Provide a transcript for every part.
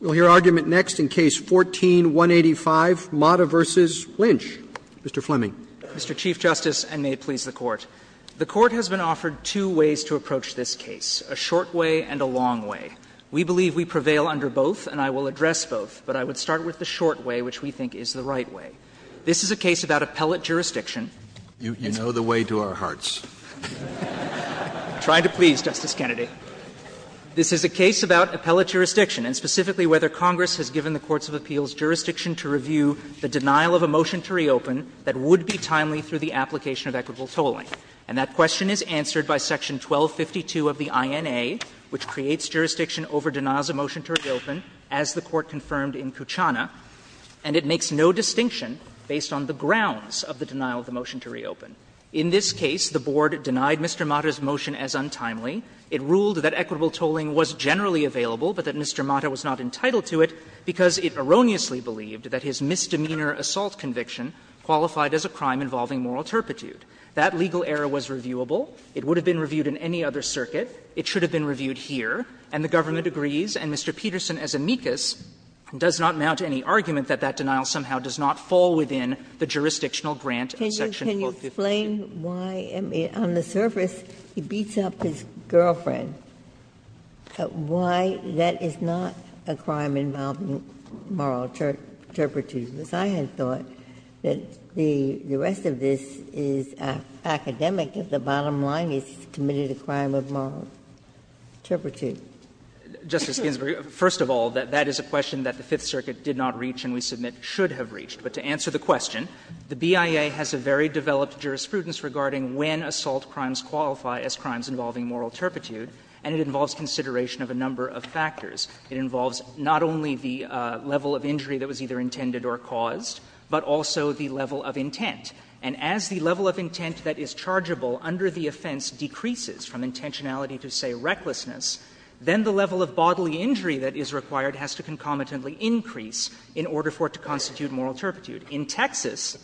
We'll hear argument next in Case 14-185, Mata v. Lynch. Mr. Fleming. Mr. Chief Justice, and may it please the Court. The Court has been offered two ways to approach this case, a short way and a long way. We believe we prevail under both, and I will address both. But I would start with the short way, which we think is the right way. This is a case about appellate jurisdiction. You know the way to our hearts. I'm trying to please, Justice Kennedy. This is a case about appellate jurisdiction, and specifically whether Congress has given the courts of appeals jurisdiction to review the denial of a motion to reopen that would be timely through the application of equitable tolling. And that question is answered by Section 1252 of the INA, which creates jurisdiction over denials of motion to reopen, as the Court confirmed in Kuchana, and it makes no distinction based on the grounds of the denial of the motion to reopen. In this case, the Board denied Mr. Mata's motion as untimely. It ruled that equitable tolling was generally available, but that Mr. Mata was not entitled to it, because it erroneously believed that his misdemeanor assault conviction qualified as a crime involving moral turpitude. That legal error was reviewable. It would have been reviewed in any other circuit. It should have been reviewed here, and the government agrees. And Mr. Peterson, as amicus, does not mount any argument that that denial somehow does not fall within the jurisdictional grant of Section 1252. Ginsburg's question, why, on the surface, he beats up his girlfriend, why that is not a crime involving moral turpitude, because I had thought that the rest of this is academic if the bottom line is he's committed a crime of moral turpitude. First of all, that is a question that the Fifth Circuit did not reach and we submit should have reached. But to answer the question, the BIA has a very developed jurisprudence regarding when assault crimes qualify as crimes involving moral turpitude, and it involves consideration of a number of factors. It involves not only the level of injury that was either intended or caused, but also the level of intent. And as the level of intent that is chargeable under the offense decreases from intentionality to, say, recklessness, then the level of bodily injury that is required has to concomitantly increase in order for it to constitute moral turpitude. In Texas,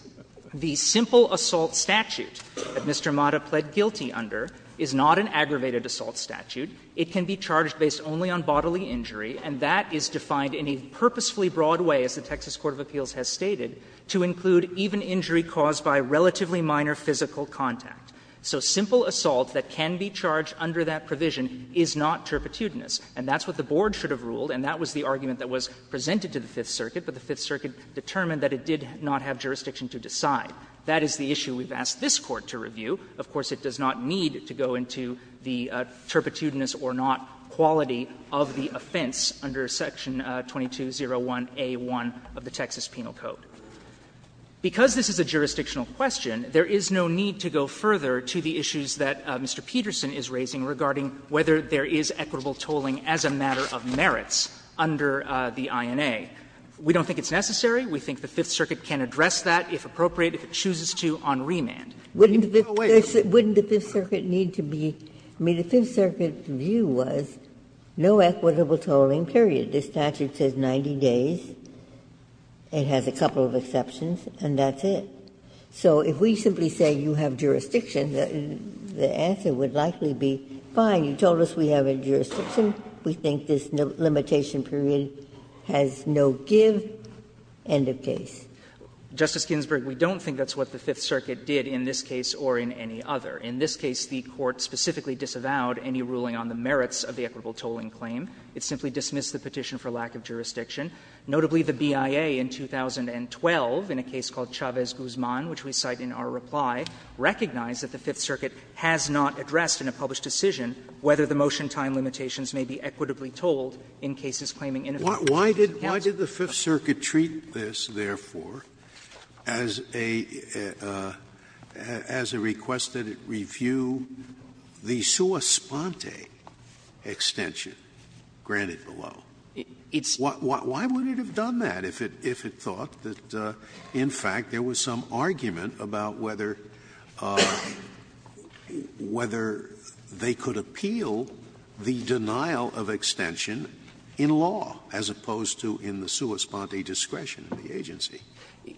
the simple assault statute that Mr. Mata pled guilty under is not an aggravated assault statute. It can be charged based only on bodily injury, and that is defined in a purposefully broad way, as the Texas Court of Appeals has stated, to include even injury caused by relatively minor physical contact. So simple assault that can be charged under that provision is not turpitudinous, and that's what the board should have ruled, and that was the argument that was presented to the Fifth Circuit, but the Fifth Circuit determined that it did not have jurisdiction to decide. That is the issue we've asked this Court to review. Of course, it does not need to go into the turpitudinous or not quality of the offense under Section 2201a1 of the Texas Penal Code. Because this is a jurisdictional question, there is no need to go further to the issues that Mr. Peterson is raising regarding whether there is equitable tolling as a matter of merits under the INA. We don't think it's necessary. We think the Fifth Circuit can address that, if appropriate, if it chooses to, on remand. Ginsburg. Ginsburg. Wouldn't the Fifth Circuit need to be – I mean, the Fifth Circuit view was no equitable tolling, period. This statute says 90 days. It has a couple of exceptions, and that's it. So if we simply say you have jurisdiction, the answer would likely be, fine, you told us we have a jurisdiction. We think this limitation period has no give, end of case. Justice Ginsburg, we don't think that's what the Fifth Circuit did in this case or in any other. In this case, the Court specifically disavowed any ruling on the merits of the equitable tolling claim. It simply dismissed the petition for lack of jurisdiction. Notably, the BIA in 2012, in a case called Chavez-Guzman, which we cite in our reply, recognized that the Fifth Circuit has not addressed in a published decision whether the motion time limitations may be equitably tolled in cases claiming inefficiencies of the counsel. Scalia Why did the Fifth Circuit treat this, therefore, as a request that it review the sua sponte extension granted below? Why wouldn't it have done that if it thought that, in fact, there was some argument about whether they could appeal the denial of extension in law, as opposed to in the sua sponte discretion of the agency?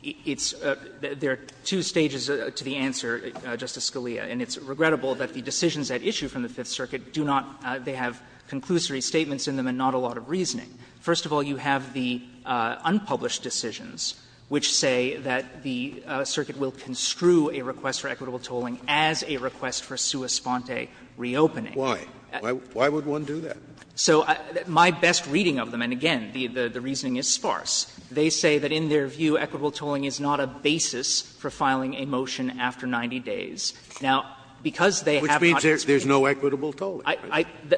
It's – there are two stages to the answer, Justice Scalia, and it's regrettable that the decisions at issue from the Fifth Circuit do not – they have conclusory First of all, you have the unpublished decisions, which say that the circuit will construe a request for equitable tolling as a request for sua sponte reopening. Scalia Why? Why would one do that? So my best reading of them, and again, the reasoning is sparse, they say that in their view equitable tolling is not a basis for filing a motion after 90 days. Now, because they have not stated that. Scalia Which means there's no equitable tolling.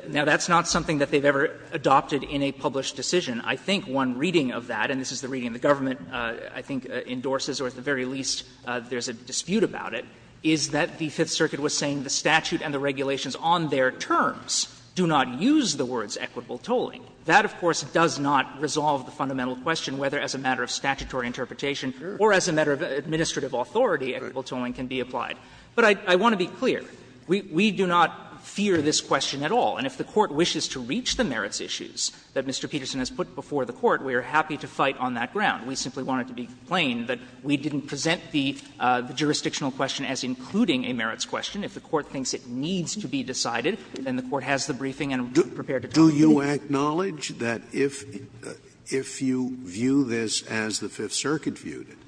Now, that's not something that they've ever adopted in a published decision. I think one reading of that, and this is the reading the government, I think, endorses or at the very least there's a dispute about it, is that the Fifth Circuit was saying the statute and the regulations on their terms do not use the words equitable tolling. That, of course, does not resolve the fundamental question whether as a matter of statutory interpretation or as a matter of administrative authority equitable tolling can be applied. But I want to be clear. We do not fear this question at all. And if the Court wishes to reach the merits issues that Mr. Peterson has put before the Court, we are happy to fight on that ground. We simply want it to be plain that we didn't present the jurisdictional question as including a merits question. If the Court thinks it needs to be decided, then the Court has the briefing and is prepared to talk about it. Scalia Do you acknowledge that if you view this as the Fifth Circuit viewed it,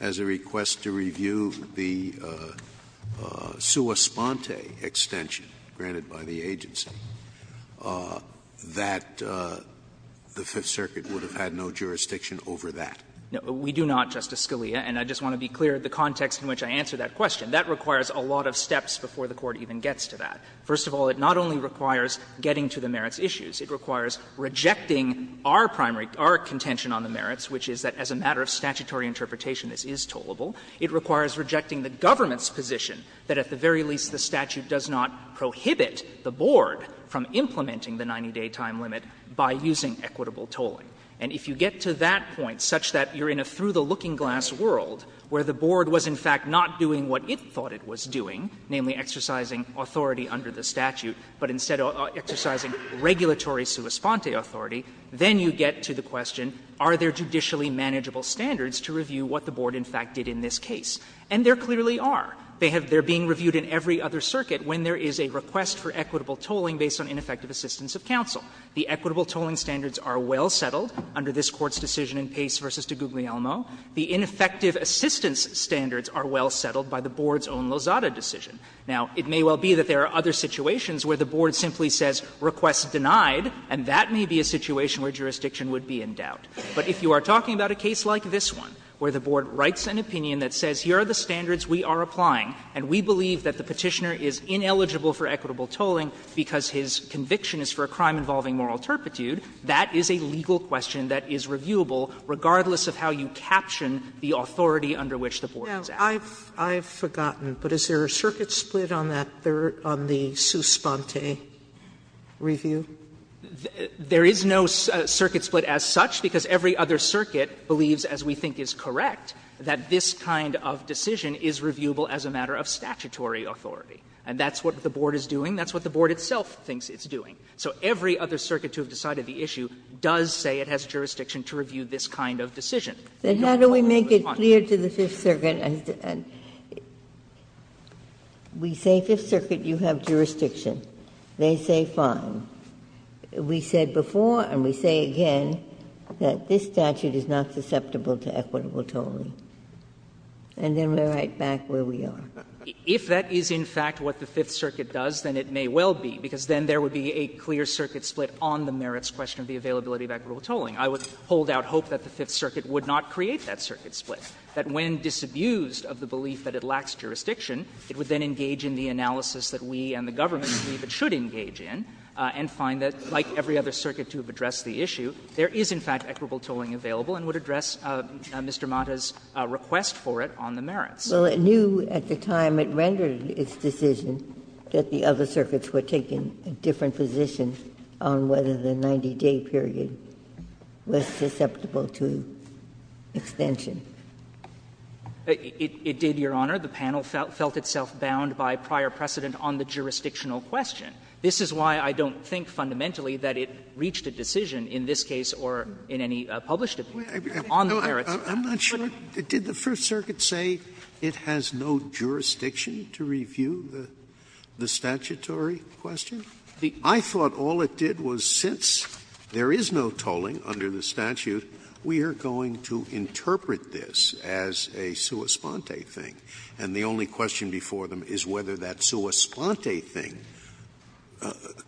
as a request to review the sua sponte extension granted by the agency, that the Fifth Circuit would have had no jurisdiction over that? No, we do not, Justice Scalia, and I just want to be clear of the context in which I answer that question. That requires a lot of steps before the Court even gets to that. First of all, it not only requires getting to the merits issues, it requires rejecting our primary contention on the merits, which is that as a matter of statutory interpretation, this is tollable. It requires rejecting the government's position that at the very least the statute does not prohibit the Board from implementing the 90-day time limit by using equitable tolling. And if you get to that point, such that you are in a through-the-looking-glass world where the Board was in fact not doing what it thought it was doing, namely exercising authority under the statute, but instead exercising regulatory sua sponte authority, then you get to the question, are there judicially manageable standards to review what the Board in fact did in this case? And there clearly are. They have been reviewed in every other circuit when there is a request for equitable tolling based on ineffective assistance of counsel. The equitable tolling standards are well settled under this Court's decision in Pace v. DiGuglielmo. The ineffective assistance standards are well settled by the Board's own Lozada decision. Now, it may well be that there are other situations where the Board simply says request denied, and that may be a situation where jurisdiction would be in doubt. But if you are talking about a case like this one, where the Board writes an opinion that says here are the standards we are applying, and we believe that the Petitioner is ineligible for equitable tolling because his conviction is for a crime involving moral turpitude, that is a legal question that is reviewable regardless of how you caption the authority under which the Board is acting. Sotomayor, I've forgotten, but is there a circuit split on that, on the sua sponte review? There is no circuit split as such, because every other circuit believes, as we think is correct, that this kind of decision is reviewable as a matter of statutory authority. And that's what the Board is doing. That's what the Board itself thinks it's doing. So every other circuit to have decided the issue does say it has jurisdiction to review this kind of decision. Ginsburg, then how do we make it clear to the Fifth Circuit, we say Fifth Circuit, you have jurisdiction. They say fine. We said before and we say again that this statute is not susceptible to equitable tolling. And then we are right back where we are. If that is in fact what the Fifth Circuit does, then it may well be, because then there would be a clear circuit split on the merits question of the availability of equitable tolling. I would hold out hope that the Fifth Circuit would not create that circuit split, that when disabused of the belief that it lacks jurisdiction, it would then engage in the analysis that we and the government believe it should engage in and find that, like every other circuit to have addressed the issue, there is in fact equitable tolling available and would address Mr. Mata's request for it on the merits. Ginsburg, well, it knew at the time it rendered its decision that the other circuits were taking a different position on whether the 90-day period was susceptible to extension. It did, Your Honor. The panel felt itself bound by prior precedent on the jurisdictional question. This is why I don't think fundamentally that it reached a decision in this case or in any published opinion on the merits. Scalia I'm not sure. Did the First Circuit say it has no jurisdiction to review the statutory question? I thought all it did was since there is no tolling under the statute, we are going to interpret this as a sua sponte thing. And the only question before them is whether that sua sponte thing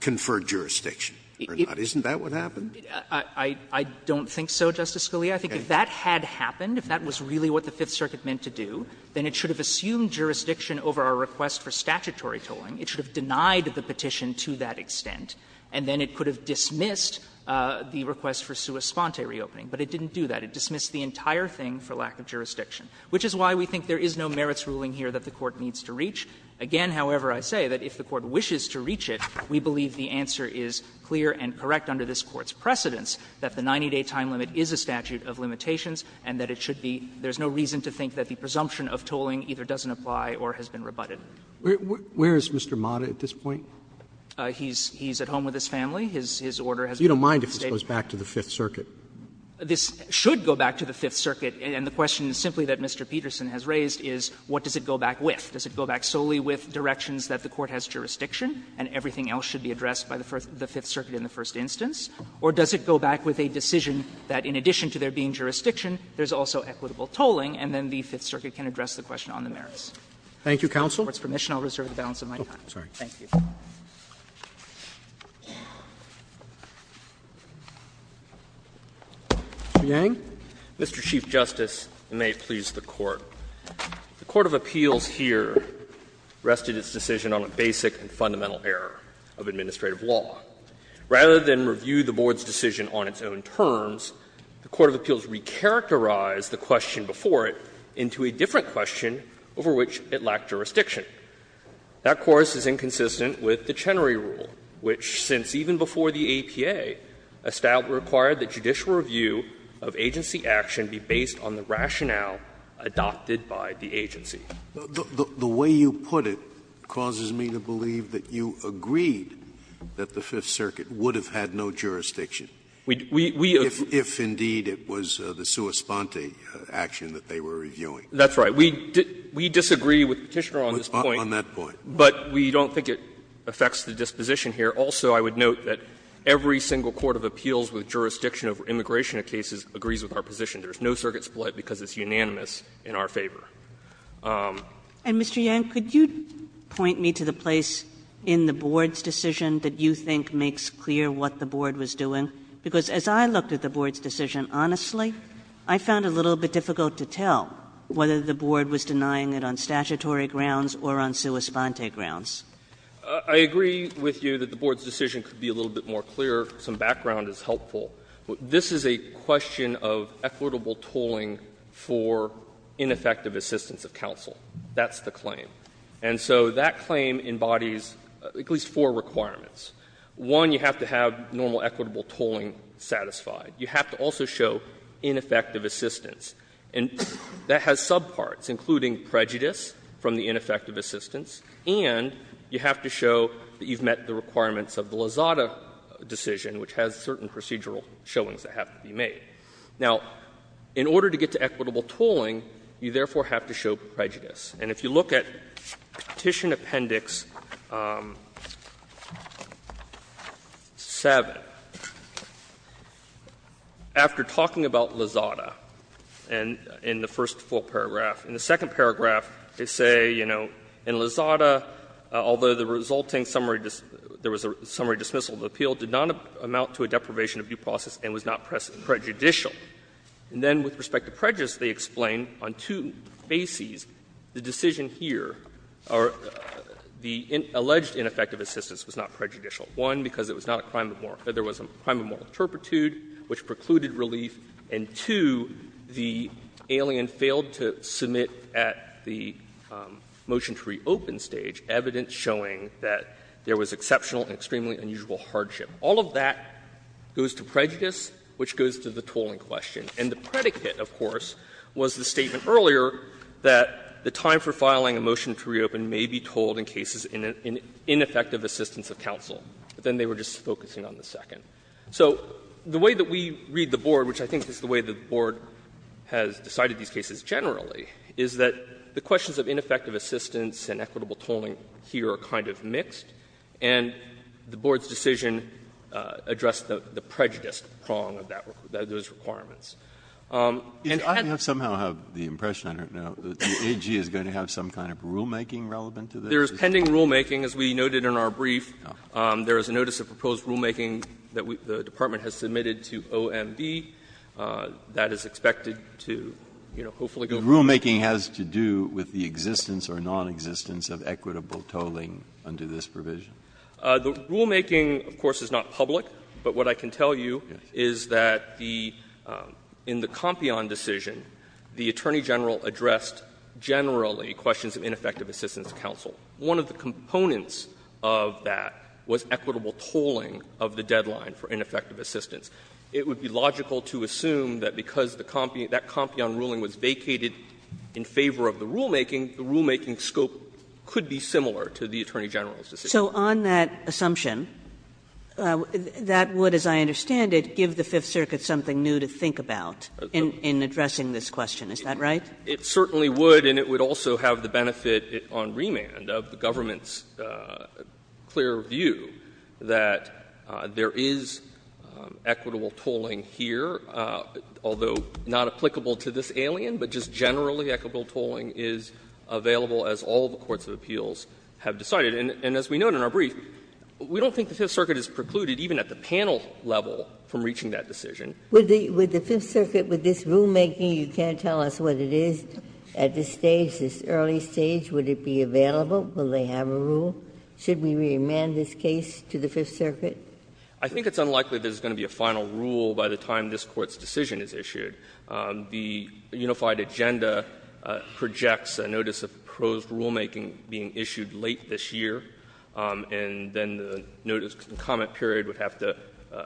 conferred jurisdiction or not. Isn't that what happened? I don't think so, Justice Scalia. I think if that had happened, if that was really what the Fifth Circuit meant to do, then it should have assumed jurisdiction over our request for statutory tolling. It should have denied the petition to that extent, and then it could have dismissed the request for sua sponte reopening. But it didn't do that. It dismissed the entire thing for lack of jurisdiction, which is why we think there is no merits ruling here that the Court needs to reach. Again, however, I say that if the Court wishes to reach it, we believe the answer is clear and correct under this Court's precedence that the 90-day time limit is a statute of limitations and that it should be – there is no reason to think that the presumption of tolling either doesn't apply or has been rebutted. Roberts Where is Mr. Mata at this point? He's at home with his family. His order has been made. Roberts You don't mind if this goes back to the Fifth Circuit? This should go back to the Fifth Circuit, and the question is simply that Mr. Peterson has raised is, what does it go back with? Does it go back solely with directions that the Court has jurisdiction and everything else should be addressed by the Fifth Circuit in the first instance? Or does it go back with a decision that, in addition to there being jurisdiction, there is also equitable tolling, and then the Fifth Circuit can address the question on the merits? Roberts Thank you, counsel. Mr. Yang, Mr. Chief Justice, and may it please the Court. The court of appeals here rested its decision on a basic and fundamental error of administrative law. Rather than review the Board's decision on its own terms, the court of appeals recharacterized the question before it into a different question over which it lacked jurisdiction. That course is inconsistent with the Chenery Rule, which, since even before the APA, required that judicial review of agency action be based on the rationale adopted by the agency. Scalia The way you put it causes me to believe that you agreed that the Fifth Circuit would have had no jurisdiction. Roberts We agree. Scalia If, indeed, it was the sua sponte action that they were reviewing. Roberts That's right. We disagree with the Petitioner on this point. Scalia On that point. Roberts But we don't think it affects the disposition here. Also, I would note that every single court of appeals with jurisdiction over immigration cases agrees with our position. There is no circuit split because it's unanimous in our favor. Kagan And, Mr. Yang, could you point me to the place in the Board's decision that you think makes clear what the Board was doing? Because as I looked at the Board's decision, honestly, I found it a little bit difficult to tell whether the Board was denying it on statutory grounds or on sua sponte grounds. Yang I agree with you that the Board's decision could be a little bit more clear. Some background is helpful. This is a question of equitable tolling for ineffective assistance of counsel. That's the claim. And so that claim embodies at least four requirements. One, you have to have normal equitable tolling satisfied. You have to also show ineffective assistance. And that has subparts, including prejudice from the ineffective assistance, and you have to show that you've met the requirements of the Lozada decision, which has certain procedural showings that have to be made. Now, in order to get to equitable tolling, you therefore have to show prejudice. And if you look at Petition Appendix 7, after talking about Lozada in the first full paragraph, in the second paragraph, they say, you know, in Lozada, there is no prejudice. In Petition Appendix 7, Lozada, although the resulting summary, there was a summary dismissal of the appeal, did not amount to a deprivation of due process and was not prejudicial. And then with respect to prejudice, they explain on two bases the decision here, or the alleged ineffective assistance was not prejudicial. One, because it was not a crime of moral – there was a crime of moral turpitude, which precluded relief. And two, the alien failed to submit at the motion to reopen stage evidence showing that there was exceptional and extremely unusual hardship. All of that goes to prejudice, which goes to the tolling question. And the predicate, of course, was the statement earlier that the time for filing a motion to reopen may be tolled in cases in ineffective assistance of counsel. But then they were just focusing on the second. So the way that we read the Board, which I think is the way the Board has decided these cases generally, is that the questions of ineffective assistance and equitable tolling here are kind of mixed, and the Board's decision addressed the prejudiced prong of that – of those requirements. And hence— Breyer, I somehow have the impression, I don't know, that the AG is going to have some kind of rulemaking relevant to this? There is pending rulemaking, as we noted in our brief. There is a notice of proposed rulemaking that the Department has submitted to OMB that is expected to, you know, hopefully go forward. Breyer, rulemaking has to do with the existence or nonexistence of equitable tolling under this provision? The rulemaking, of course, is not public, but what I can tell you is that the – in the Compion decision, the Attorney General addressed generally questions of ineffective assistance of counsel. One of the components of that was equitable tolling of the deadline for ineffective assistance. It would be logical to assume that because the Compion – that Compion ruling was vacated in favor of the rulemaking, the rulemaking scope could be similar to the Attorney General's decision. So on that assumption, that would, as I understand it, give the Fifth Circuit something new to think about in addressing this question, is that right? It certainly would, and it would also have the benefit on remand of the government's clear view that there is equitable tolling here, although not applicable to this alien, but just generally equitable tolling is available as all the courts of appeals have decided. And as we noted in our brief, we don't think the Fifth Circuit is precluded even at the panel level from reaching that decision. Ginsburg-McCarthy With the Fifth Circuit, with this rulemaking, you can't tell us what it is at this stage, this early stage. Would it be available? Will they have a rule? Should we remand this case to the Fifth Circuit? I think it's unlikely there's going to be a final rule by the time this Court's decision is issued. The unified agenda projects a notice of proposed rulemaking being issued late this year, and then the notice and comment period would have to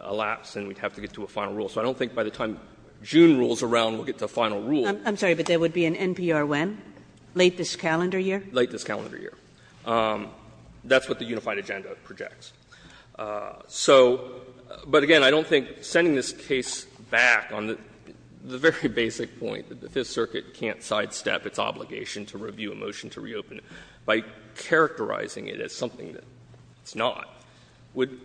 elapse and we'd have to get to a final rule. So I don't think by the time June rolls around we'll get to a final rule. Kagan I'm sorry, but there would be an NPR when? Late this calendar year? Waxman Late this calendar year. That's what the unified agenda projects. So, but again, I don't think sending this case back on the very basic point that the Fifth Circuit can't sidestep its obligation to review a motion to reopen it by characterizing it as something that it's not would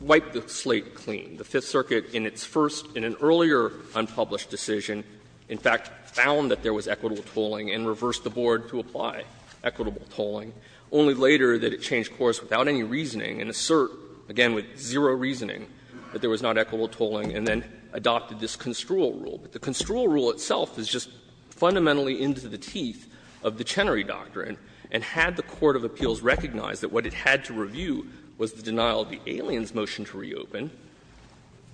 wipe the slate clean. The Fifth Circuit in its first, in an earlier unpublished decision, in fact found that there was equitable tolling and reversed the board to apply equitable tolling, only later did it change course without any reasoning and assert, again, with zero reasoning, that there was not equitable tolling and then adopted this construal rule. But the construal rule itself is just fundamentally into the teeth of the Chenery Doctrine, and had the court of appeals recognized that what it had to review was the denial of the aliens' motion to reopen,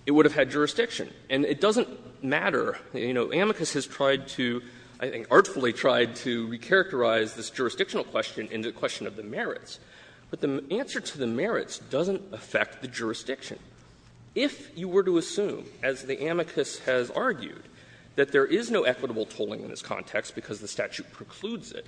it would have had jurisdiction. And it doesn't matter, you know, amicus has tried to, I think artfully tried to recharacterize this jurisdictional question into a question of the merits. But the answer to the merits doesn't affect the jurisdiction. If you were to assume, as the amicus has argued, that there is no equitable tolling in this context because the statute precludes it,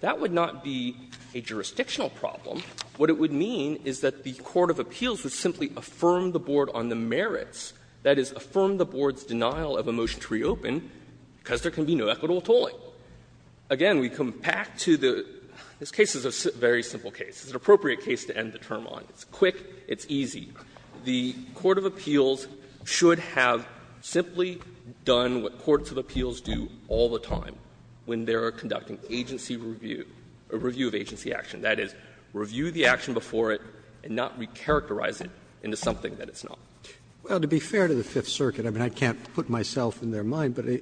that would not be a jurisdictional problem. What it would mean is that the court of appeals would simply affirm the board on the merits, that is, affirm the board's denial of a motion to reopen, because there can be no equitable tolling. Again, we come back to the – this case is a very simple case. It's an appropriate case to end the term on. It's quick. It's easy. The court of appeals should have simply done what courts of appeals do all the time when they are conducting agency review, a review of agency action. That is, review the action before it and not recharacterize it into something that it's not. Roberts Well, to be fair to the Fifth Circuit, I mean, I can't put myself in their mind, but I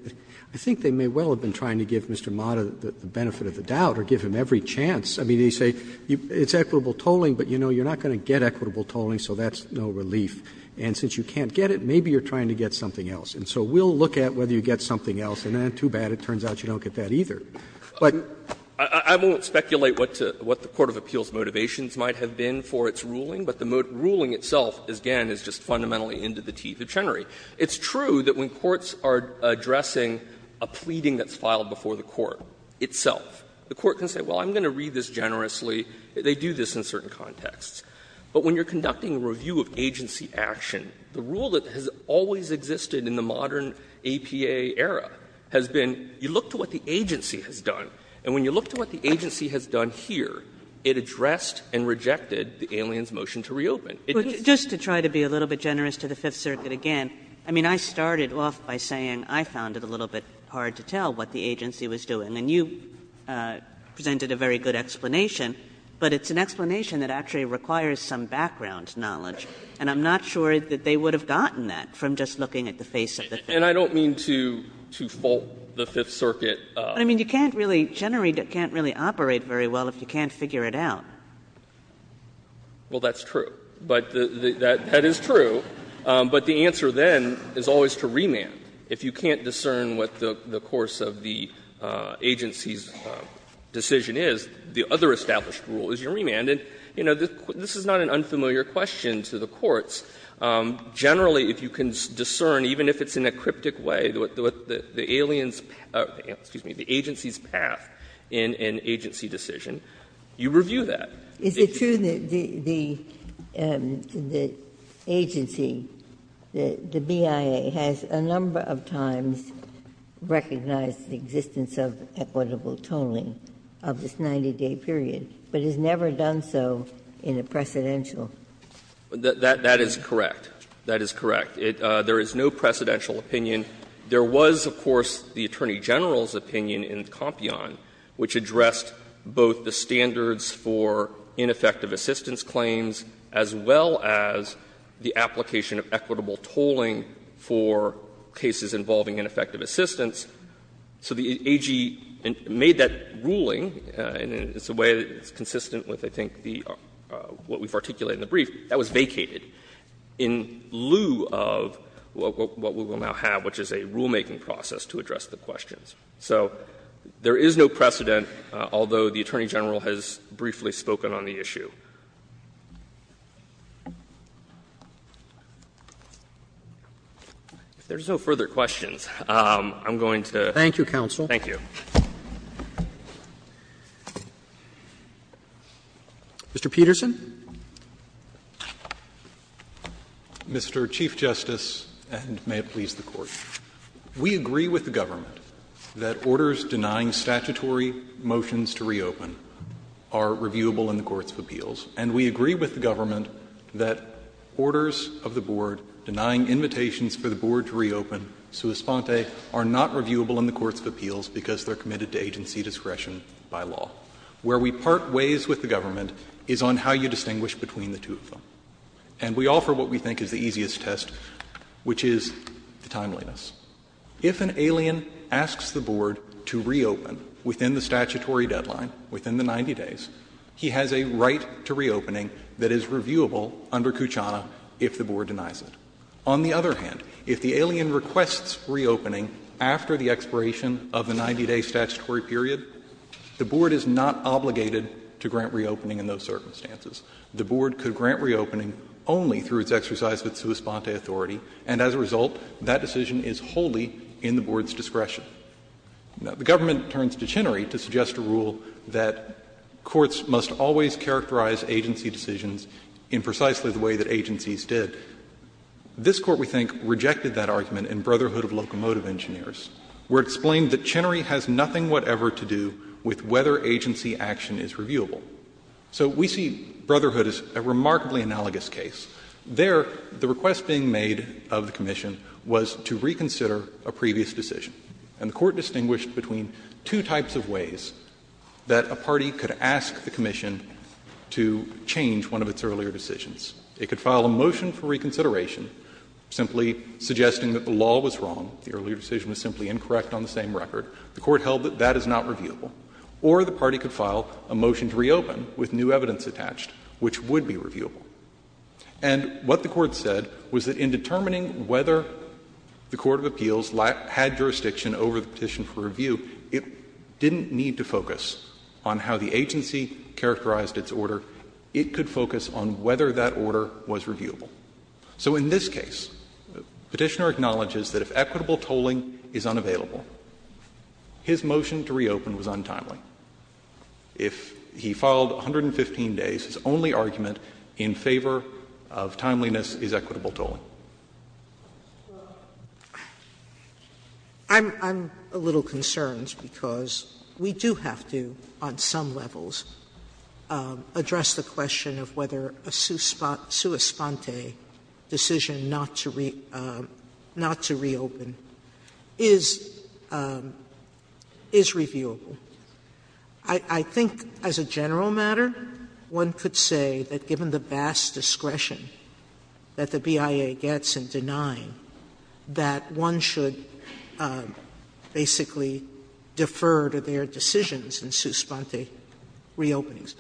think they may well have been trying to give Mr. Mata the benefit of the doubt or give him every chance. I mean, they say it's equitable tolling, but, you know, you're not going to get equitable tolling, so that's no relief. And since you can't get it, maybe you're trying to get something else. And so we'll look at whether you get something else. And too bad, it turns out you don't get that either. But I won't speculate what the court of appeals' motivations might have been for its ruling, but the ruling itself, again, is just fundamentally into the teeth of Chenery. It's true that when courts are addressing a pleading that's filed before the court itself, the court can say, well, I'm going to read this generously. They do this in certain contexts. But when you're conducting a review of agency action, the rule that has always existed in the modern A.P.A. era has been, you look to what the agency has done. And when you look to what the agency has done here, it addressed and rejected the alien's motion to reopen. Kagan. Kagan. Kagan. But just to try to be a little bit generous to the Fifth Circuit again, I mean, I started off by saying I found it a little bit hard to tell what the agency was doing. And you presented a very good explanation. But it's an explanation that actually requires some background knowledge, and I'm not sure that they would have gotten that from just looking at the face of the Fifth. And I don't mean to fault the Fifth Circuit. I mean, you can't really generate, can't really operate very well if you can't figure it out. Well, that's true. But that is true. But the answer then is always to remand. If you can't discern what the course of the agency's decision is, the other established rule is your remand. And, you know, this is not an unfamiliar question to the courts. Generally, if you can discern, even if it's in a cryptic way, what the alien's path or, excuse me, the agency's path in an agency decision, you review that. Ginsburg. Is it true that the agency, the BIA, has a number of times recognized the existence of equitable tolling of this 90-day period, but has never done so in a precedential? That is correct. That is correct. There is no precedential opinion. There was, of course, the Attorney General's opinion in Compion which addressed both the standards for ineffective assistance claims as well as the application of equitable tolling for cases involving ineffective assistance. So the AG made that ruling, and it's a way that's consistent with, I think, the what we've articulated in the brief, that was vacated in lieu of what we will now have, which is a rulemaking process to address the questions. So there is no precedent, although the Attorney General has briefly spoken on the issue. If there's no further questions, I'm going to. Roberts Thank you, counsel. Peterson. Mr. Chief Justice, and may it please the Court. We agree with the government that orders denying statutory motions to reopen are reviewable in the courts of appeals, and we agree with the government that orders of the board denying invitations for the board to reopen, sua sponte, are not reviewable in the courts of appeals because they are committed to agency discretion by law. Where we part ways with the government is on how you distinguish between the two of them. And we offer what we think is the easiest test, which is the timeliness. If an alien asks the board to reopen within the statutory deadline, within the 90 days, he has a right to reopening that is reviewable under Cucciana if the board denies it. On the other hand, if the alien requests reopening after the expiration of the 90-day statutory period, the board is not obligated to grant reopening in those circumstances. The board could grant reopening only through its exercise of its sua sponte authority, and as a result, that decision is wholly in the board's discretion. Now, the government turns to Chenery to suggest a rule that courts must always characterize agency decisions in precisely the way that agencies did. This Court, we think, rejected that argument in Brotherhood of Locomotive Engineers, where it explained that Chenery has nothing whatever to do with whether agency action is reviewable. So we see Brotherhood as a remarkably analogous case. There, the request being made of the commission was to reconsider a previous decision. And the Court distinguished between two types of ways that a party could ask the commission to change one of its earlier decisions. It could file a motion for reconsideration, simply suggesting that the law was wrong, the earlier decision was simply incorrect on the same record. The Court held that that is not reviewable. Or the party could file a motion to reopen with new evidence attached, which would be reviewable. And what the Court said was that in determining whether the court of appeals had jurisdiction over the petition for review, it didn't need to focus on how the agency characterized its order. It could focus on whether that order was reviewable. So in this case, Petitioner acknowledges that if equitable tolling is unavailable, his motion to reopen was untimely. If he filed 115 days, his only argument in favor of timeliness is equitable tolling. Sotomayor? Sotomayor? I'm a little concerned because we do have to, on some levels, address the question of whether a sua sponte decision not to reopen is reviewable. I think as a general matter, one could say that, given the vast discretion that the BIA gets in denying, that one should basically defer to their decisions in sua sponte reopenings.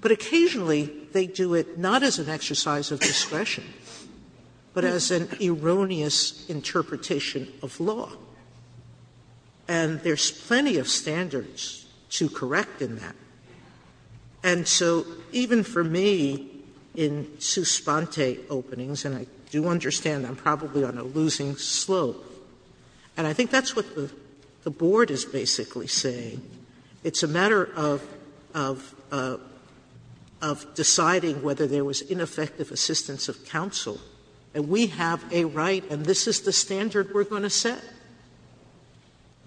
But occasionally they do it not as an exercise of discretion, but as an erroneous interpretation of law. And there's plenty of standards to correct in that. And so even for me, in sua sponte openings, and I do understand I'm probably on a losing slope, and I think that's what the Board is basically saying, it's a matter of deciding whether there was ineffective assistance of counsel. And we have a right, and this is the standard we're going to set.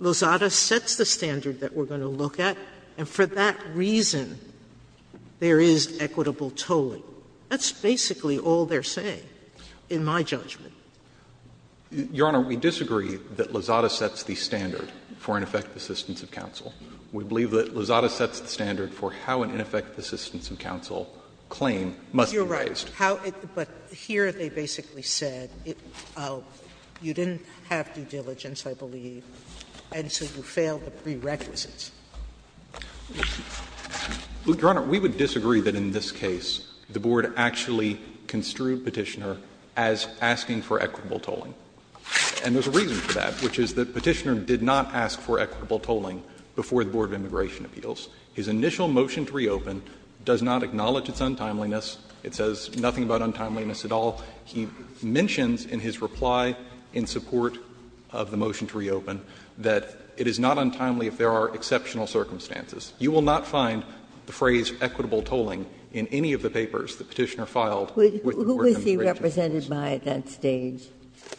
Lozada sets the standard that we're going to look at. And for that reason, there is equitable tolling. That's basically all they're saying, in my judgment. Your Honor, we disagree that Lozada sets the standard for ineffective assistance of counsel. We believe that Lozada sets the standard for how an ineffective assistance of counsel claim must be raised. You're right. But here they basically said, you didn't have due diligence, I believe, and so you failed the prerequisites. Your Honor, we would disagree that in this case the Board actually construed Petitioner as asking for equitable tolling. And there's a reason for that, which is that Petitioner did not ask for equitable tolling before the Board of Immigration Appeals. His initial motion to reopen does not acknowledge its untimeliness. It says nothing about untimeliness at all. He mentions in his reply in support of the motion to reopen that it is not untimely if there are exceptional circumstances. You will not find the phrase equitable tolling in any of the papers that Petitioner filed with the Board of Immigration Appeals. Ginsburg. Who is he represented by at that stage?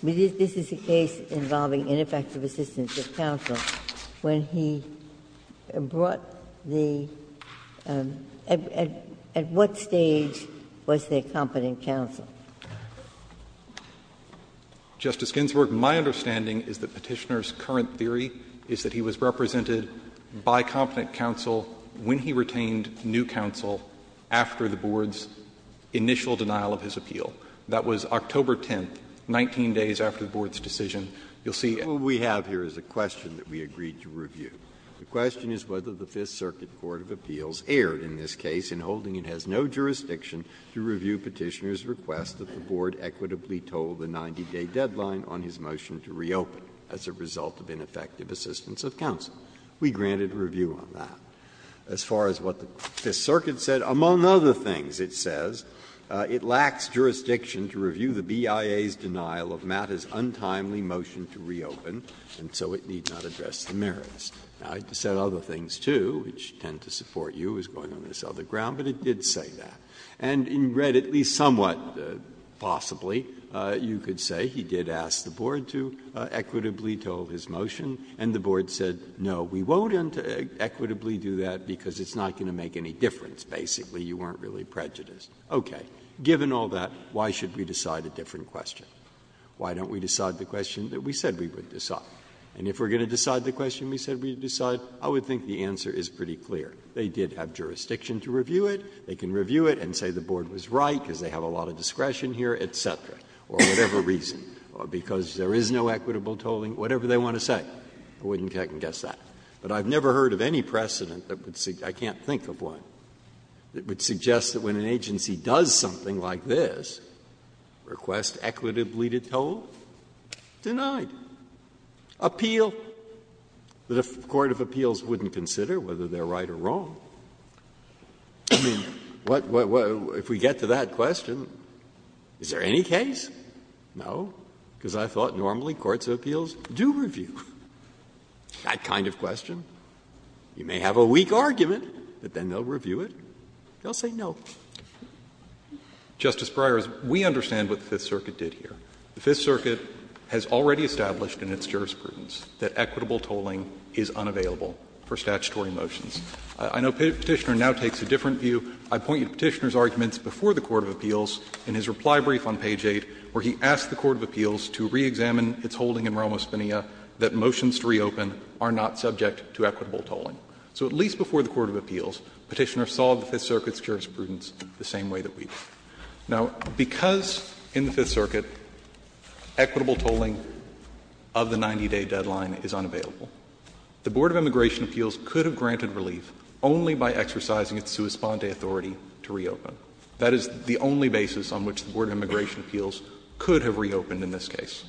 This is a case involving ineffective assistance of counsel. When he brought the at what stage was the accompanying counsel? Justice Ginsburg, my understanding is that Petitioner's current theory is that he was represented by competent counsel when he retained new counsel after the Board's initial denial of his appeal. That was October 10th, 19 days after the Board's decision. You'll see. Breyer. What we have here is a question that we agreed to review. The question is whether the Fifth Circuit Court of Appeals erred in this case in holding it has no jurisdiction to review Petitioner's request that the Board equitably toll the 90-day deadline on his motion to reopen as a result of ineffective assistance of counsel. We granted a review on that. As far as what the Fifth Circuit said, among other things it says, it lacks jurisdiction to review the BIA's denial of MATA's untimely motion to reopen, and so it need not address the merits. Now, it said other things, too, which tend to support you as going on this other ground, but it did say that. And in red, at least somewhat possibly, you could say he did ask the Board to equitably toll his motion and the Board said, no, we won't equitably do that because it's not going to make any difference, basically, you weren't really prejudiced. Okay. Given all that, why should we decide a different question? Why don't we decide the question that we said we would decide? And if we're going to decide the question we said we would decide, I would think the answer is pretty clear. They did have jurisdiction to review it. They can review it and say the Board was right because they have a lot of discretion here, et cetera, or whatever reason, or because there is no equitable tolling, whatever they want to say. I wouldn't guess that. But I've never heard of any precedent that would suggest that, I can't think of one, that would suggest that when an agency does something like this, request equitably to toll, denied. Appeal, that a court of appeals wouldn't consider whether they're right or wrong. I mean, what, if we get to that question, is there any case? No, because I thought normally courts of appeals do review that kind of question. You may have a weak argument, but then they'll review it. They'll say no. Fisherman. Justice Breyer, we understand what the Fifth Circuit did here. The Fifth Circuit has already established in its jurisprudence that equitable tolling is unavailable for statutory motions. I know Petitioner now takes a different view. I point you to Petitioner's arguments before the court of appeals in his reply brief on page 8, where he asked the court of appeals to reexamine its holding in Romo-Spinia that motions to reopen are not subject to equitable tolling. So at least before the court of appeals, Petitioner saw the Fifth Circuit's jurisprudence the same way that we do. Now, because in the Fifth Circuit equitable tolling of the 90-day deadline is unavailable, the Board of Immigration Appeals could have granted relief only by exercising its sua sponde authority to reopen. That is the only basis on which the Board of Immigration Appeals could have reopened in this case.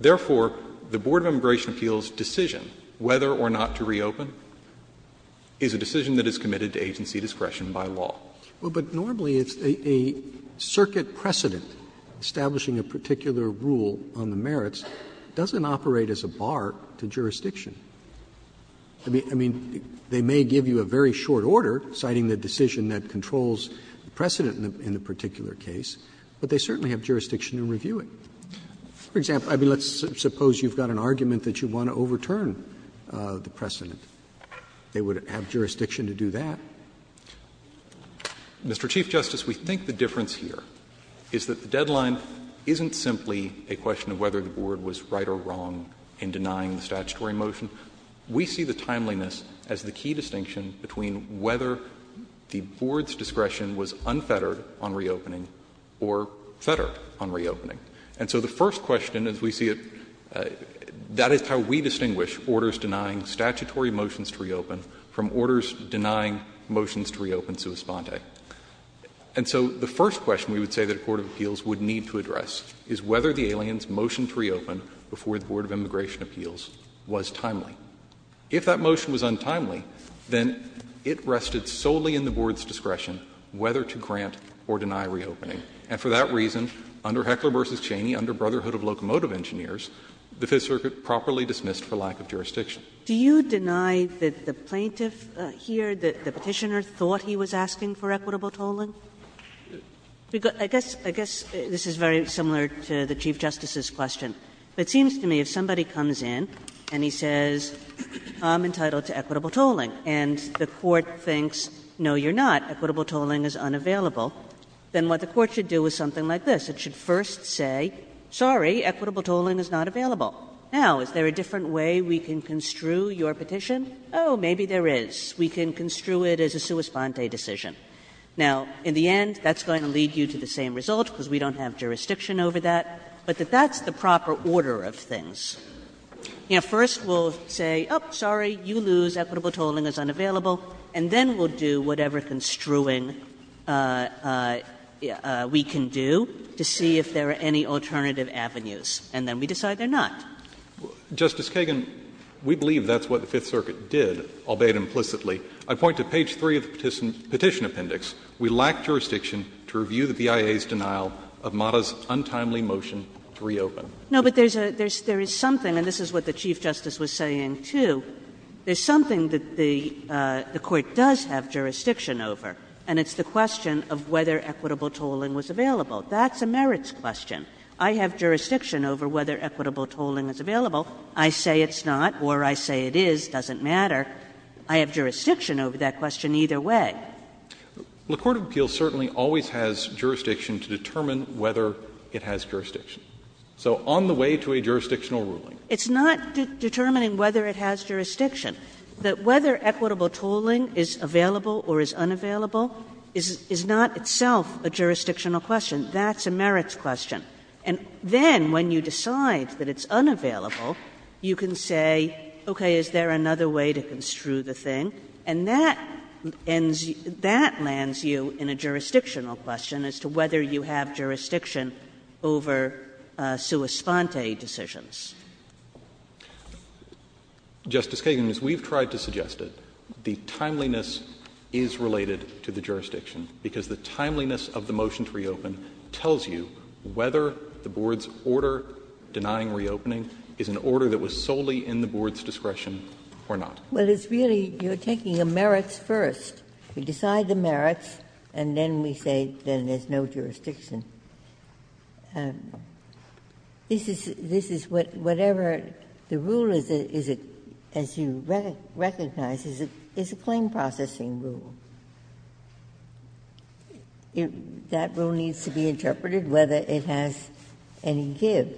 Therefore, the Board of Immigration Appeals' decision whether or not to reopen is a decision that is committed to agency discretion by law. Roberts. Roberts. But normally it's a circuit precedent. Establishing a particular rule on the merits doesn't operate as a bar to jurisdiction. I mean, they may give you a very short order citing the decision that controls the precedent in the particular case, but they certainly have jurisdiction in reviewing. For example, let's suppose you've got an argument that you want to overturn the precedent. They would have jurisdiction to do that. Mr. Chief Justice, we think the difference here is that the deadline isn't simply a question of whether the Board was right or wrong in denying the statutory motion to reopen. We see the timeliness as the key distinction between whether the Board's discretion was unfettered on reopening or fettered on reopening. And so the first question, as we see it, that is how we distinguish orders denying statutory motions to reopen from orders denying motions to reopen sua sponde. And so the first question we would say that a court of appeals would need to address is whether the alien's motion to reopen before the Board of Immigration Appeals was timely. If that motion was untimely, then it rested solely in the Board's discretion whether to grant or deny reopening. And for that reason, under Heckler v. Cheney, under Brotherhood of Locomotive Engineers, the Fifth Circuit properly dismissed for lack of jurisdiction. Kagan. Do you deny that the plaintiff here, the Petitioner, thought he was asking for equitable tolling? I guess this is very similar to the Chief Justice's question. It seems to me if somebody comes in and he says, I'm entitled to equitable tolling, and the court thinks, no, you're not, equitable tolling is unavailable, then what the court should do is something like this. It should first say, sorry, equitable tolling is not available. Now, is there a different way we can construe your petition? Oh, maybe there is. We can construe it as a sua sponde decision. Now, in the end, that's going to lead you to the same result, because we don't have jurisdiction over that, but that that's the proper order of things. You know, first we'll say, oh, sorry, you lose, equitable tolling is unavailable. And then we'll do whatever construing we can do to see if there are any alternative avenues, and then we decide they're not. Justice Kagan, we believe that's what the Fifth Circuit did, albeit implicitly. I point to page 3 of the Petition Appendix. We lack jurisdiction to review the BIA's denial of MATA's untimely motion to reopen. Kagan. No, but there's a, there's, there is something, and this is what the Chief Justice was saying, too. There's something that the Court does have jurisdiction over, and it's the question of whether equitable tolling was available. That's a merits question. I have jurisdiction over whether equitable tolling is available. I say it's not or I say it is, doesn't matter. I have jurisdiction over that question either way. The court of appeals certainly always has jurisdiction to determine whether it has jurisdiction. So on the way to a jurisdictional ruling. It's not determining whether it has jurisdiction. Whether equitable tolling is available or is unavailable is not itself a jurisdictional question. That's a merits question. And then when you decide that it's unavailable, you can say, okay, is there another way to construe the thing? And that ends, that lands you in a jurisdictional question as to whether you have jurisdiction over sua sponte decisions. Justice Kagan, as we've tried to suggest it, the timeliness is related to the jurisdiction, because the timeliness of the motion to reopen tells you whether the Board's order denying reopening is an order that was solely in the Board's discretion or not. Ginsburg-Miller Well, it's really, you're taking a merits first. You decide the merits, and then we say then there's no jurisdiction. This is, this is whatever the rule is, is it, as you recognize, is a claim-processing rule. That rule needs to be interpreted, whether it has any give.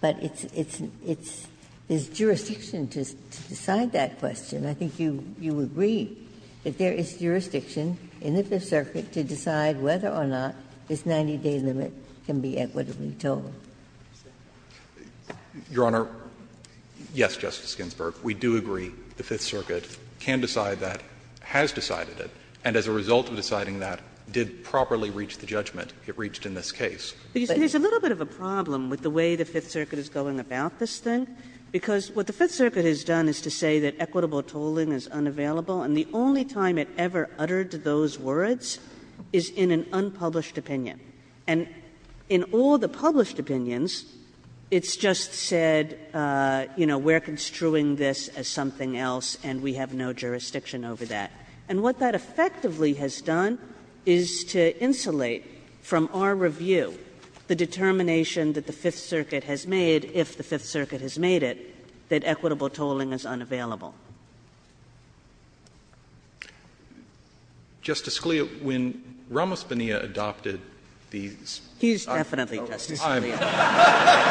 But it's, it's, it's, there's jurisdiction to decide that question. I think you, you agree that there is jurisdiction in the Fifth Circuit to decide whether or not this 90-day limit can be equitably told. Fisherman Your Honor, yes, Justice Ginsburg, we do agree the Fifth Circuit can decide that, has decided it, and as a result of deciding that, did properly reach the judgment it reached in this case. Kagan There's a little bit of a problem with the way the Fifth Circuit is going about this thing, because what the Fifth Circuit has done is to say that equitable tolling is unavailable, and the only time it ever uttered those words is in an unpublished opinion. And in all the published opinions, it's just said, you know, we're construing this as something else, and we have no jurisdiction over that. And what that effectively has done is to insulate from our review the determination that the Fifth Circuit has made, if the Fifth Circuit has made it, that equitable tolling is unavailable. Roberts Justice Scalia, when Ramos-Bonilla adopted these Kagan He's definitely Justice Scalia. Roberts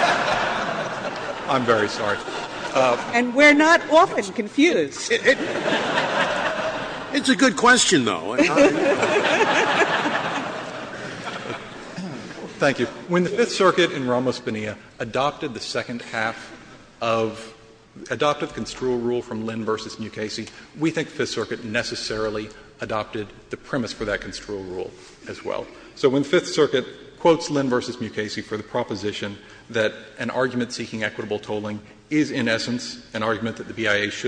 I'm very sorry. Kagan And we're not often confused. Scalia It's a good question, though. Roberts Thank you. When the Fifth Circuit in Ramos-Bonilla adopted the second half of the construal rule from Lynn v. Mukasey, we think the Fifth Circuit necessarily adopted the premise for that construal rule as well. So when the Fifth Circuit quotes Lynn v. Mukasey for the proposition that an argument should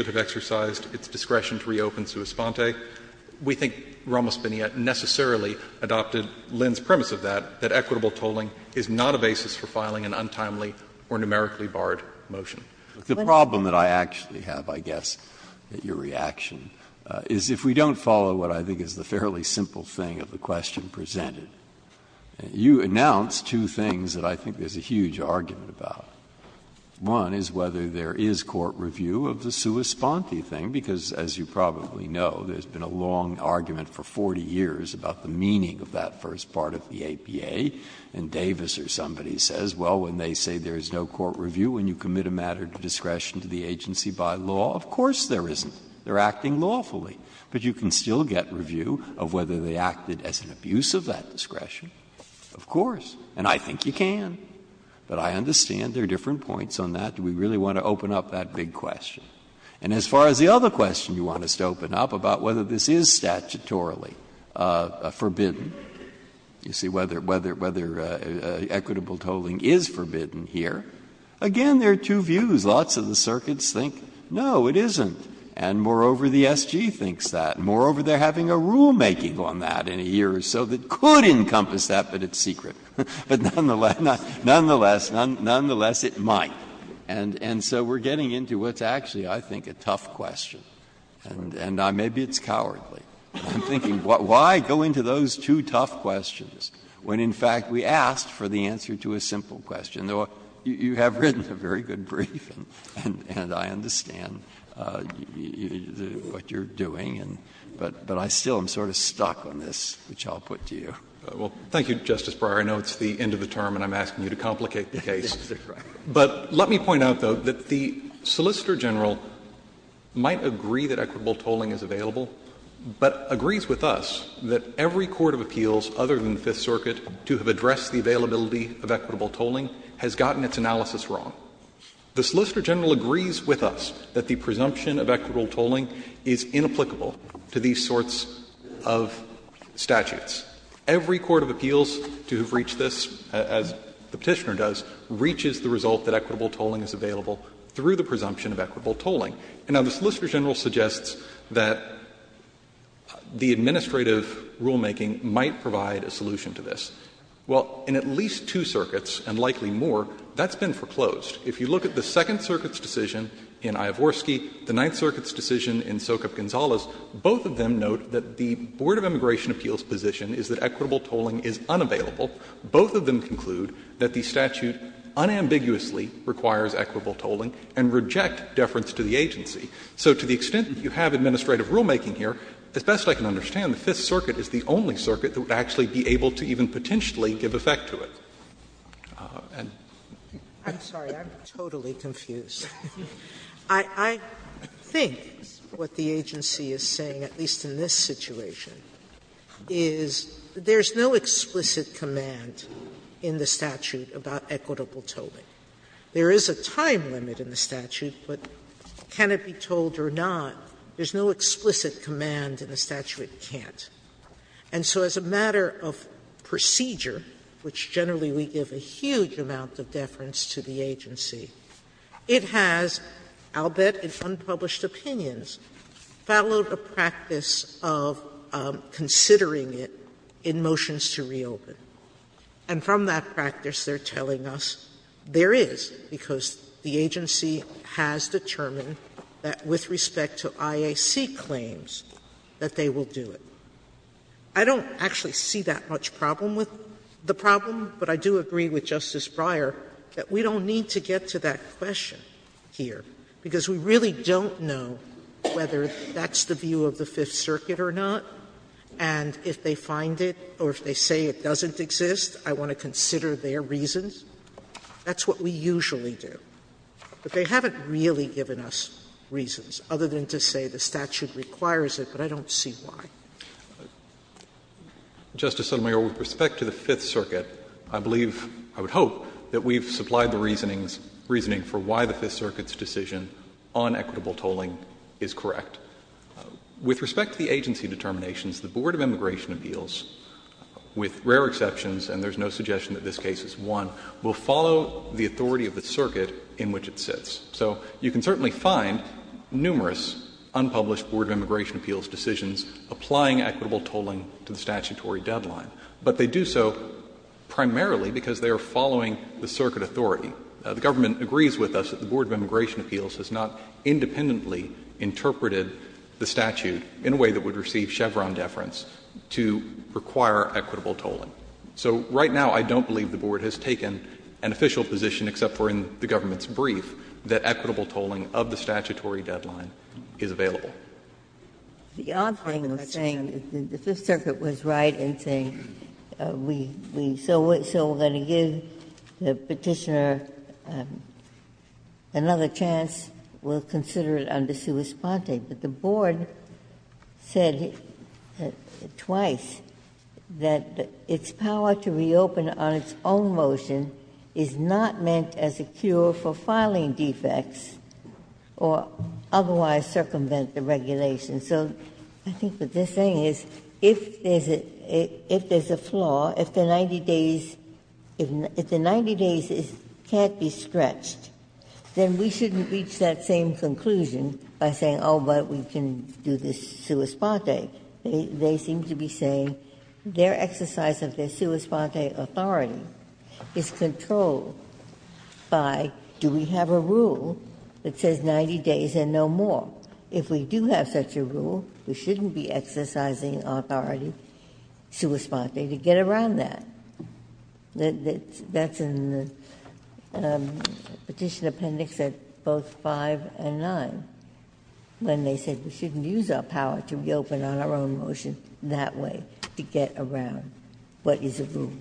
have exercised its discretion to reopen sua sponte, we think Ramos-Bonilla necessarily adopted Lynn's premise of that, that equitable tolling is not a basis for filing an untimely or numerically barred motion. Breyer The problem that I actually have, I guess, at your reaction, is if we don't follow what I think is the fairly simple thing of the question presented, you announce two things that I think there's a huge argument about. One is whether there is court review of the sua sponte thing, because as you probably know, there's been a long argument for 40 years about the meaning of that first part of the APA, and Davis or somebody says, well, when they say there is no court review, when you commit a matter to discretion to the agency by law, of course there isn't. They're acting lawfully. But you can still get review of whether they acted as an abuse of that discretion. Of course. And I think you can. But I understand there are different points on that. Do we really want to open up that big question? And as far as the other question you want us to open up about whether this is statutorily forbidden, you see, whether equitable tolling is forbidden here, again, there are two views. Lots of the circuits think, no, it isn't, and moreover, the SG thinks that, and moreover, they're having a rulemaking on that in a year or so that could encompass that, but it's secret. But nonetheless, nonetheless, nonetheless, it might. And so we're getting into what's actually, I think, a tough question. And maybe it's cowardly. I'm thinking, why go into those two tough questions when, in fact, we asked for the answer to a simple question? You have written a very good brief, and I understand what you're doing, but I still am sort of stuck on this, which I'll put to you. Well, thank you, Justice Breyer. I know it's the end of the term and I'm asking you to complicate the case. But let me point out, though, that the Solicitor General might agree that equitable tolling is available, but agrees with us that every court of appeals other than the Fifth Circuit to have addressed the availability of equitable tolling has gotten its analysis wrong. The Solicitor General agrees with us that the presumption of equitable tolling is inapplicable to these sorts of statutes. Every court of appeals to have reached this, as the Petitioner does, reaches the result that equitable tolling is available through the presumption of equitable tolling. Now, the Solicitor General suggests that the administrative rulemaking might provide a solution to this. Well, in at least two circuits, and likely more, that's been foreclosed. If you look at the Second Circuit's decision in Iovorsky, the Ninth Circuit's decision in Sokup-Gonzalez, both of them note that the Board of Immigration Appeals' position is that equitable tolling is unavailable. Both of them conclude that the statute unambiguously requires equitable tolling and reject deference to the agency. So to the extent that you have administrative rulemaking here, as best I can understand, the Fifth Circuit is the only circuit that would actually be able to even potentially give effect to it. And sorry, I'm totally confused. I think what the agency is saying, at least in this situation, is there's no explicit command in the statute about equitable tolling. There is a time limit in the statute, but can it be told or not, there's no explicit command in the statute it can't. And so as a matter of procedure, which generally we give a huge amount of deference to the agency, it has, I'll bet it's unpublished opinions, followed a practice of considering it in motions to reopen. And from that practice, they're telling us there is, because the agency has determined that with respect to IAC claims, that they will do it. I don't actually see that much problem with the problem, but I do agree with Justice Breyer that we don't need to get to that question here, because we really don't know whether that's the view of the Fifth Circuit or not. And if they find it or if they say it doesn't exist, I want to consider their reasons. That's what we usually do. But they haven't really given us reasons, other than to say the statute requires it, but I don't see why. Justice Sotomayor, with respect to the Fifth Circuit, I believe, I would hope that we've supplied the reasoning for why the Fifth Circuit's decision on equitable tolling is correct. With respect to the agency determinations, the Board of Immigration Appeals, with rare exceptions, and there's no suggestion that this case is one, will follow the authority of the circuit in which it sits. So you can certainly find numerous unpublished Board of Immigration Appeals decisions applying equitable tolling to the statutory deadline, but they do so primarily because they are following the circuit authority. The government agrees with us that the Board of Immigration Appeals has not independently interpreted the statute in a way that would receive Chevron deference to require equitable tolling. So right now, I don't believe the Board has taken an official position, except for in the government's brief, that equitable tolling of the statutory deadline is available. Ginsburg-Miller The odd thing is saying that the Fifth Circuit was right in saying we so we're going to give the Petitioner another chance, we'll consider it under sua sponte. But the Board said twice that its power to reopen on its own motion is not meant as a cure for filing defects or otherwise circumvent the regulation. So I think what they're saying is if there's a flaw, if the 90 days can't be stretched, then we shouldn't reach that same conclusion by saying, oh, but we can do this sua sponte. They seem to be saying their exercise of their sua sponte authority is control by do we have a rule that says 90 days and no more? If we do have such a rule, we shouldn't be exercising authority sua sponte to get around that. That's in the Petition Appendix at both 5 and 9, when they said we shouldn't use our power to reopen on our own motion that way to get around what is a rule.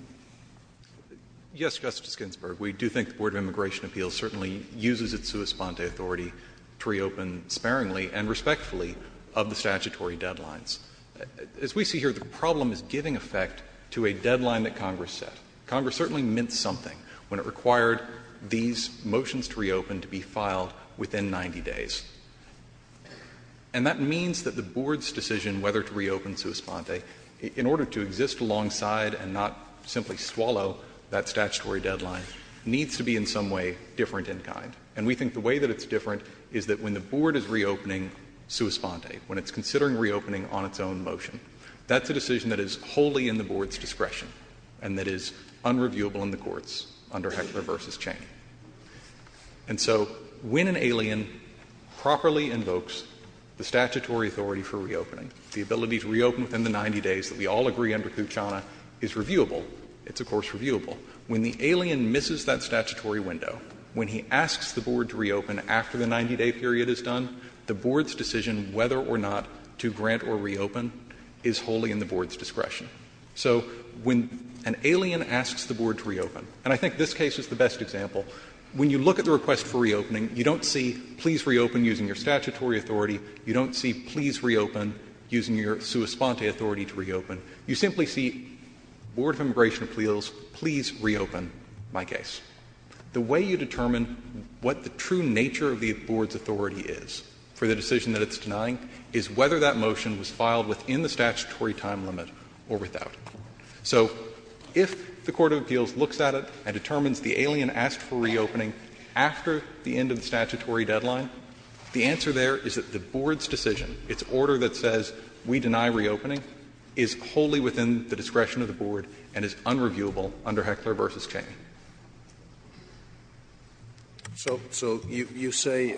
Yes, Justice Ginsburg, we do think the Board of Immigration Appeals certainly uses its sua sponte authority to reopen sparingly and respectfully of the statutory deadlines. As we see here, the problem is giving effect to a deadline that Congress set. Congress certainly meant something when it required these motions to reopen to be filed within 90 days. And that means that the Board's decision whether to reopen sua sponte, in order to exist alongside and not simply swallow that statutory deadline, needs to be in some way different in kind. And we think the way that it's different is that when the Board is reopening sua sponte, when it's considering reopening on its own motion, that's a decision that is wholly in the Board's discretion and that is unreviewable in the courts under Heckler v. Chang. And so when an alien properly invokes the statutory authority for reopening, the ability to reopen within the 90 days that we all agree under Kucana is reviewable. It's, of course, reviewable. When the alien misses that statutory window, when he asks the Board to reopen after the 90-day period is done, the Board's decision whether or not to grant or reopen is wholly in the Board's discretion. So when an alien asks the Board to reopen, and I think this case is the best example, when you look at the request for reopening, you don't see please reopen using your sua sponte authority to reopen, you simply see, Board of Immigration Appeals, please reopen my case. The way you determine what the true nature of the Board's authority is for the decision that it's denying is whether that motion was filed within the statutory time limit or without. So if the court of appeals looks at it and determines the alien asked for reopening after the end of the statutory deadline, the answer there is that the Board's decision, its order that says we deny reopening, is wholly within the discretion of the Board and is unreviewable under Heckler v. Chain. Scalia. So you say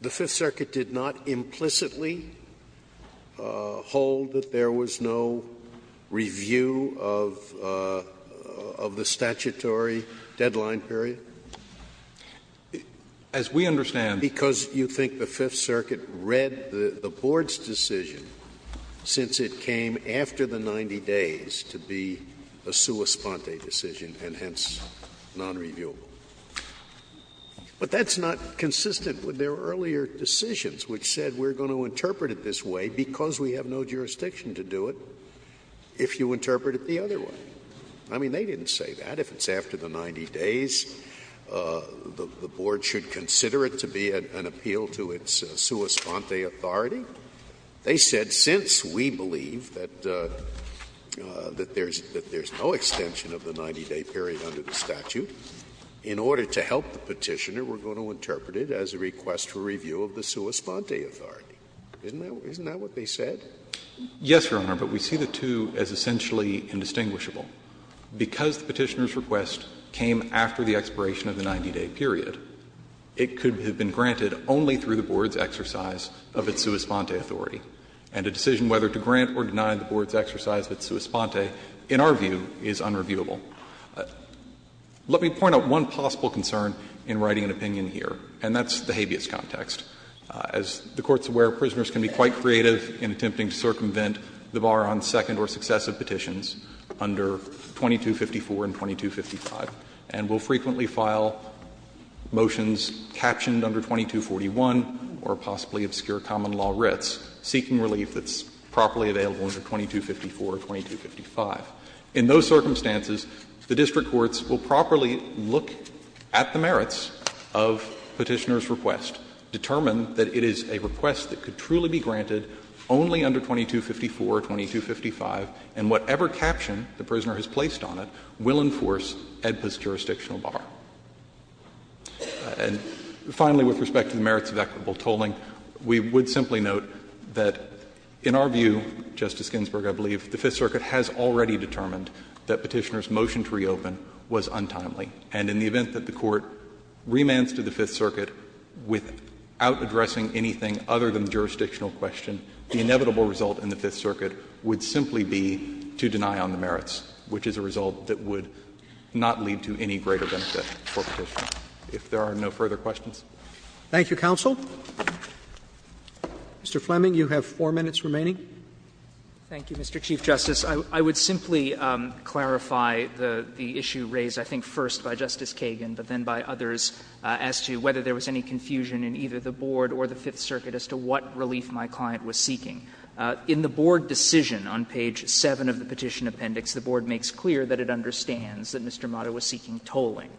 the Fifth Circuit did not implicitly hold that there was no review of the statutory deadline period? As we understand. Because you think the Fifth Circuit read the Board's decision since it came after the 90 days to be a sua sponte decision and hence nonreviewable. But that's not consistent with their earlier decisions, which said we're going to interpret it this way because we have no jurisdiction to do it if you interpret it the other way. I mean, they didn't say that. If it's after the 90 days, the Board should consider it to be an appeal to its sua sponte authority. They said since we believe that there's no extension of the 90-day period under the statute, in order to help the Petitioner, we're going to interpret it as a request for review of the sua sponte authority. Isn't that what they said? Yes, Your Honor, but we see the two as essentially indistinguishable. Because the Petitioner's request came after the expiration of the 90-day period, it could have been granted only through the Board's exercise of its sua sponte authority. And a decision whether to grant or deny the Board's exercise of its sua sponte, in our view, is unreviewable. Let me point out one possible concern in writing an opinion here, and that's the habeas context. As the Court's aware, prisoners can be quite creative in attempting to circumvent the bar on second or successive petitions under 2254 and 2255, and will frequently file motions captioned under 2241 or possibly obscure common law writs, seeking relief that's properly available under 2254 or 2255. In those circumstances, the district courts will properly look at the merits of Petitioner's request, determine that it is a request that could truly be granted only under 2255 or 2241 or 2255, and whatever caption the prisoner has placed on it will enforce AEDPA's jurisdictional bar. And finally, with respect to the merits of equitable tolling, we would simply note that, in our view, Justice Ginsburg, I believe, the Fifth Circuit has already determined that Petitioner's motion to reopen was untimely. And in the event that the Court remands to the Fifth Circuit without addressing anything other than the jurisdictional question, the inevitable result in the Fifth Circuit would simply be to deny on the merits, which is a result that would not lead to any greater benefit for Petitioner. If there are no further questions. Roberts. Thank you, counsel. Mr. Fleming, you have 4 minutes remaining. Thank you, Mr. Chief Justice. I would simply clarify the issue raised, I think, first by Justice Kagan, but then by others, as to whether there was any confusion in either the Board or the Fifth Circuit as to what relief my client was seeking. In the Board decision on page 7 of the Petition Appendix, the Board makes clear that it understands that Mr. Mata was seeking tolling.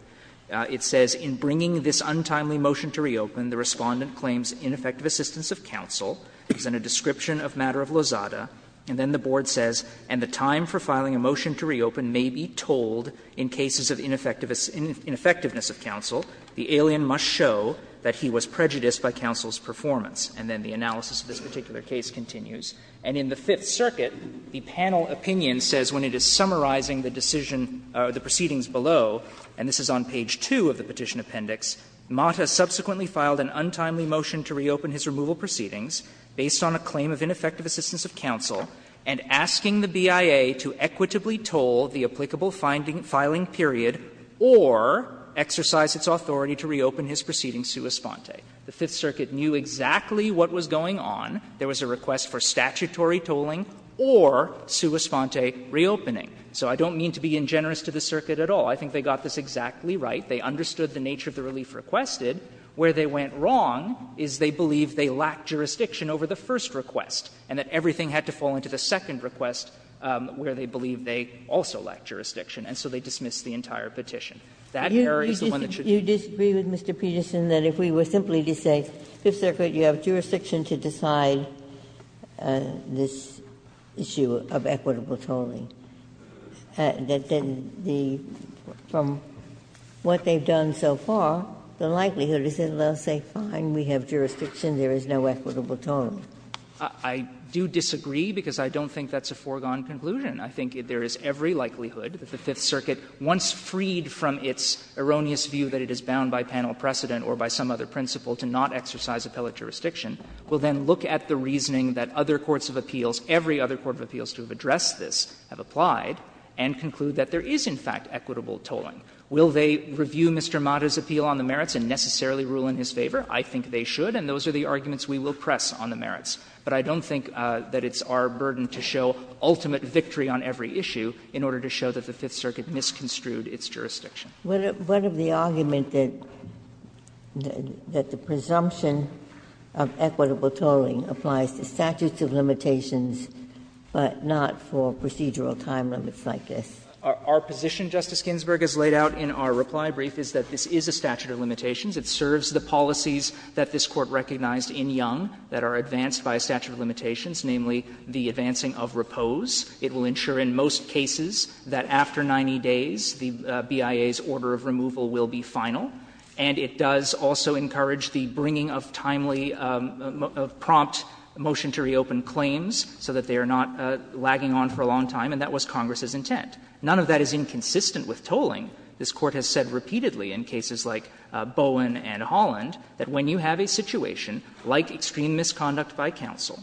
It says, In bringing this untimely motion to reopen, the Respondent claims ineffective assistance of counsel. It's in a description of matter of Lozada. And then the Board says, And the time for filing a motion to reopen may be tolled in cases of ineffectiveness of counsel. The alien must show that he was prejudiced by counsel's performance. And then the analysis of this particular case continues. And in the Fifth Circuit, the panel opinion says, when it is summarizing the decision or the proceedings below, and this is on page 2 of the Petition Appendix, Mata subsequently filed an untimely motion to reopen his removal proceedings, based on a claim of ineffective assistance of counsel, and asking the BIA to equitably toll the applicable filing period or exercise its authority to reopen his proceedings sua sponte. The Fifth Circuit knew exactly what was going on. There was a request for statutory tolling or sua sponte reopening. So I don't mean to be ingenerous to the circuit at all. I think they got this exactly right. They understood the nature of the relief requested. Where they went wrong is they believed they lacked jurisdiction over the first request, and that everything had to fall into the second request where they believed they also lacked jurisdiction, and so they dismissed the entire petition. That error is the one that should be used. I disagree with Mr. Petersen that if we were simply to say, Fifth Circuit, you have jurisdiction to decide this issue of equitable tolling, that then the one thing done so far, the likelihood is that they will say, fine, we have jurisdiction, there is no equitable tolling. I do disagree, because I don't think that's a foregone conclusion. I think there is every likelihood that the Fifth Circuit, once freed from its erroneous view that it is bound by panel precedent or by some other principle to not exercise appellate jurisdiction, will then look at the reasoning that other courts of appeals, every other court of appeals to have addressed this, have applied, and conclude that there is, in fact, equitable tolling. Will they review Mr. Mata's appeal on the merits and necessarily rule in his favor? I think they should, and those are the arguments we will press on the merits. But I don't think that it's our burden to show ultimate victory on every issue in order to show that the Fifth Circuit misconstrued its jurisdiction. Ginsburg. What of the argument that the presumption of equitable tolling applies to statutes of limitations, but not for procedural time limits like this? Our position, Justice Ginsburg, as laid out in our reply brief, is that this is a statute of limitations. It serves the policies that this Court recognized in Young that are advanced by a statute of limitations, namely the advancing of repose. It will ensure in most cases that after 90 days the BIA's order of removal will be final. And it does also encourage the bringing of timely prompt motion to reopen claims so that they are not lagging on for a long time, and that was Congress's intent. None of that is inconsistent with tolling. This Court has said repeatedly in cases like Bowen and Holland that when you have a situation like extreme misconduct by counsel,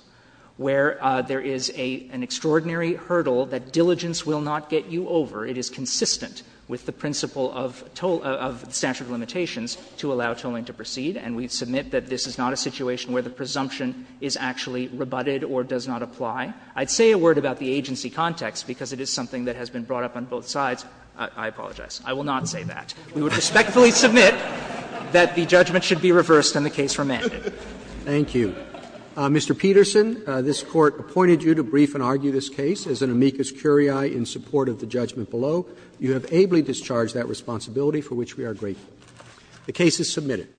where there is an extraordinary hurdle that diligence will not get you over, it is consistent with the principle of tolling of statute of limitations to allow tolling to proceed, and we submit that this is not a situation where the presumption is actually rebutted or does not apply. I'd say a word about the agency context, because it is something that has been brought up on both sides. I apologize. I will not say that. We would respectfully submit that the judgment should be reversed and the case remanded. Roberts. Roberts. Roberts. Mr. Peterson, this Court appointed you to brief and argue this case as an amicus curiae in support of the judgment below. You have ably discharged that responsibility, for which we are grateful. The case is submitted.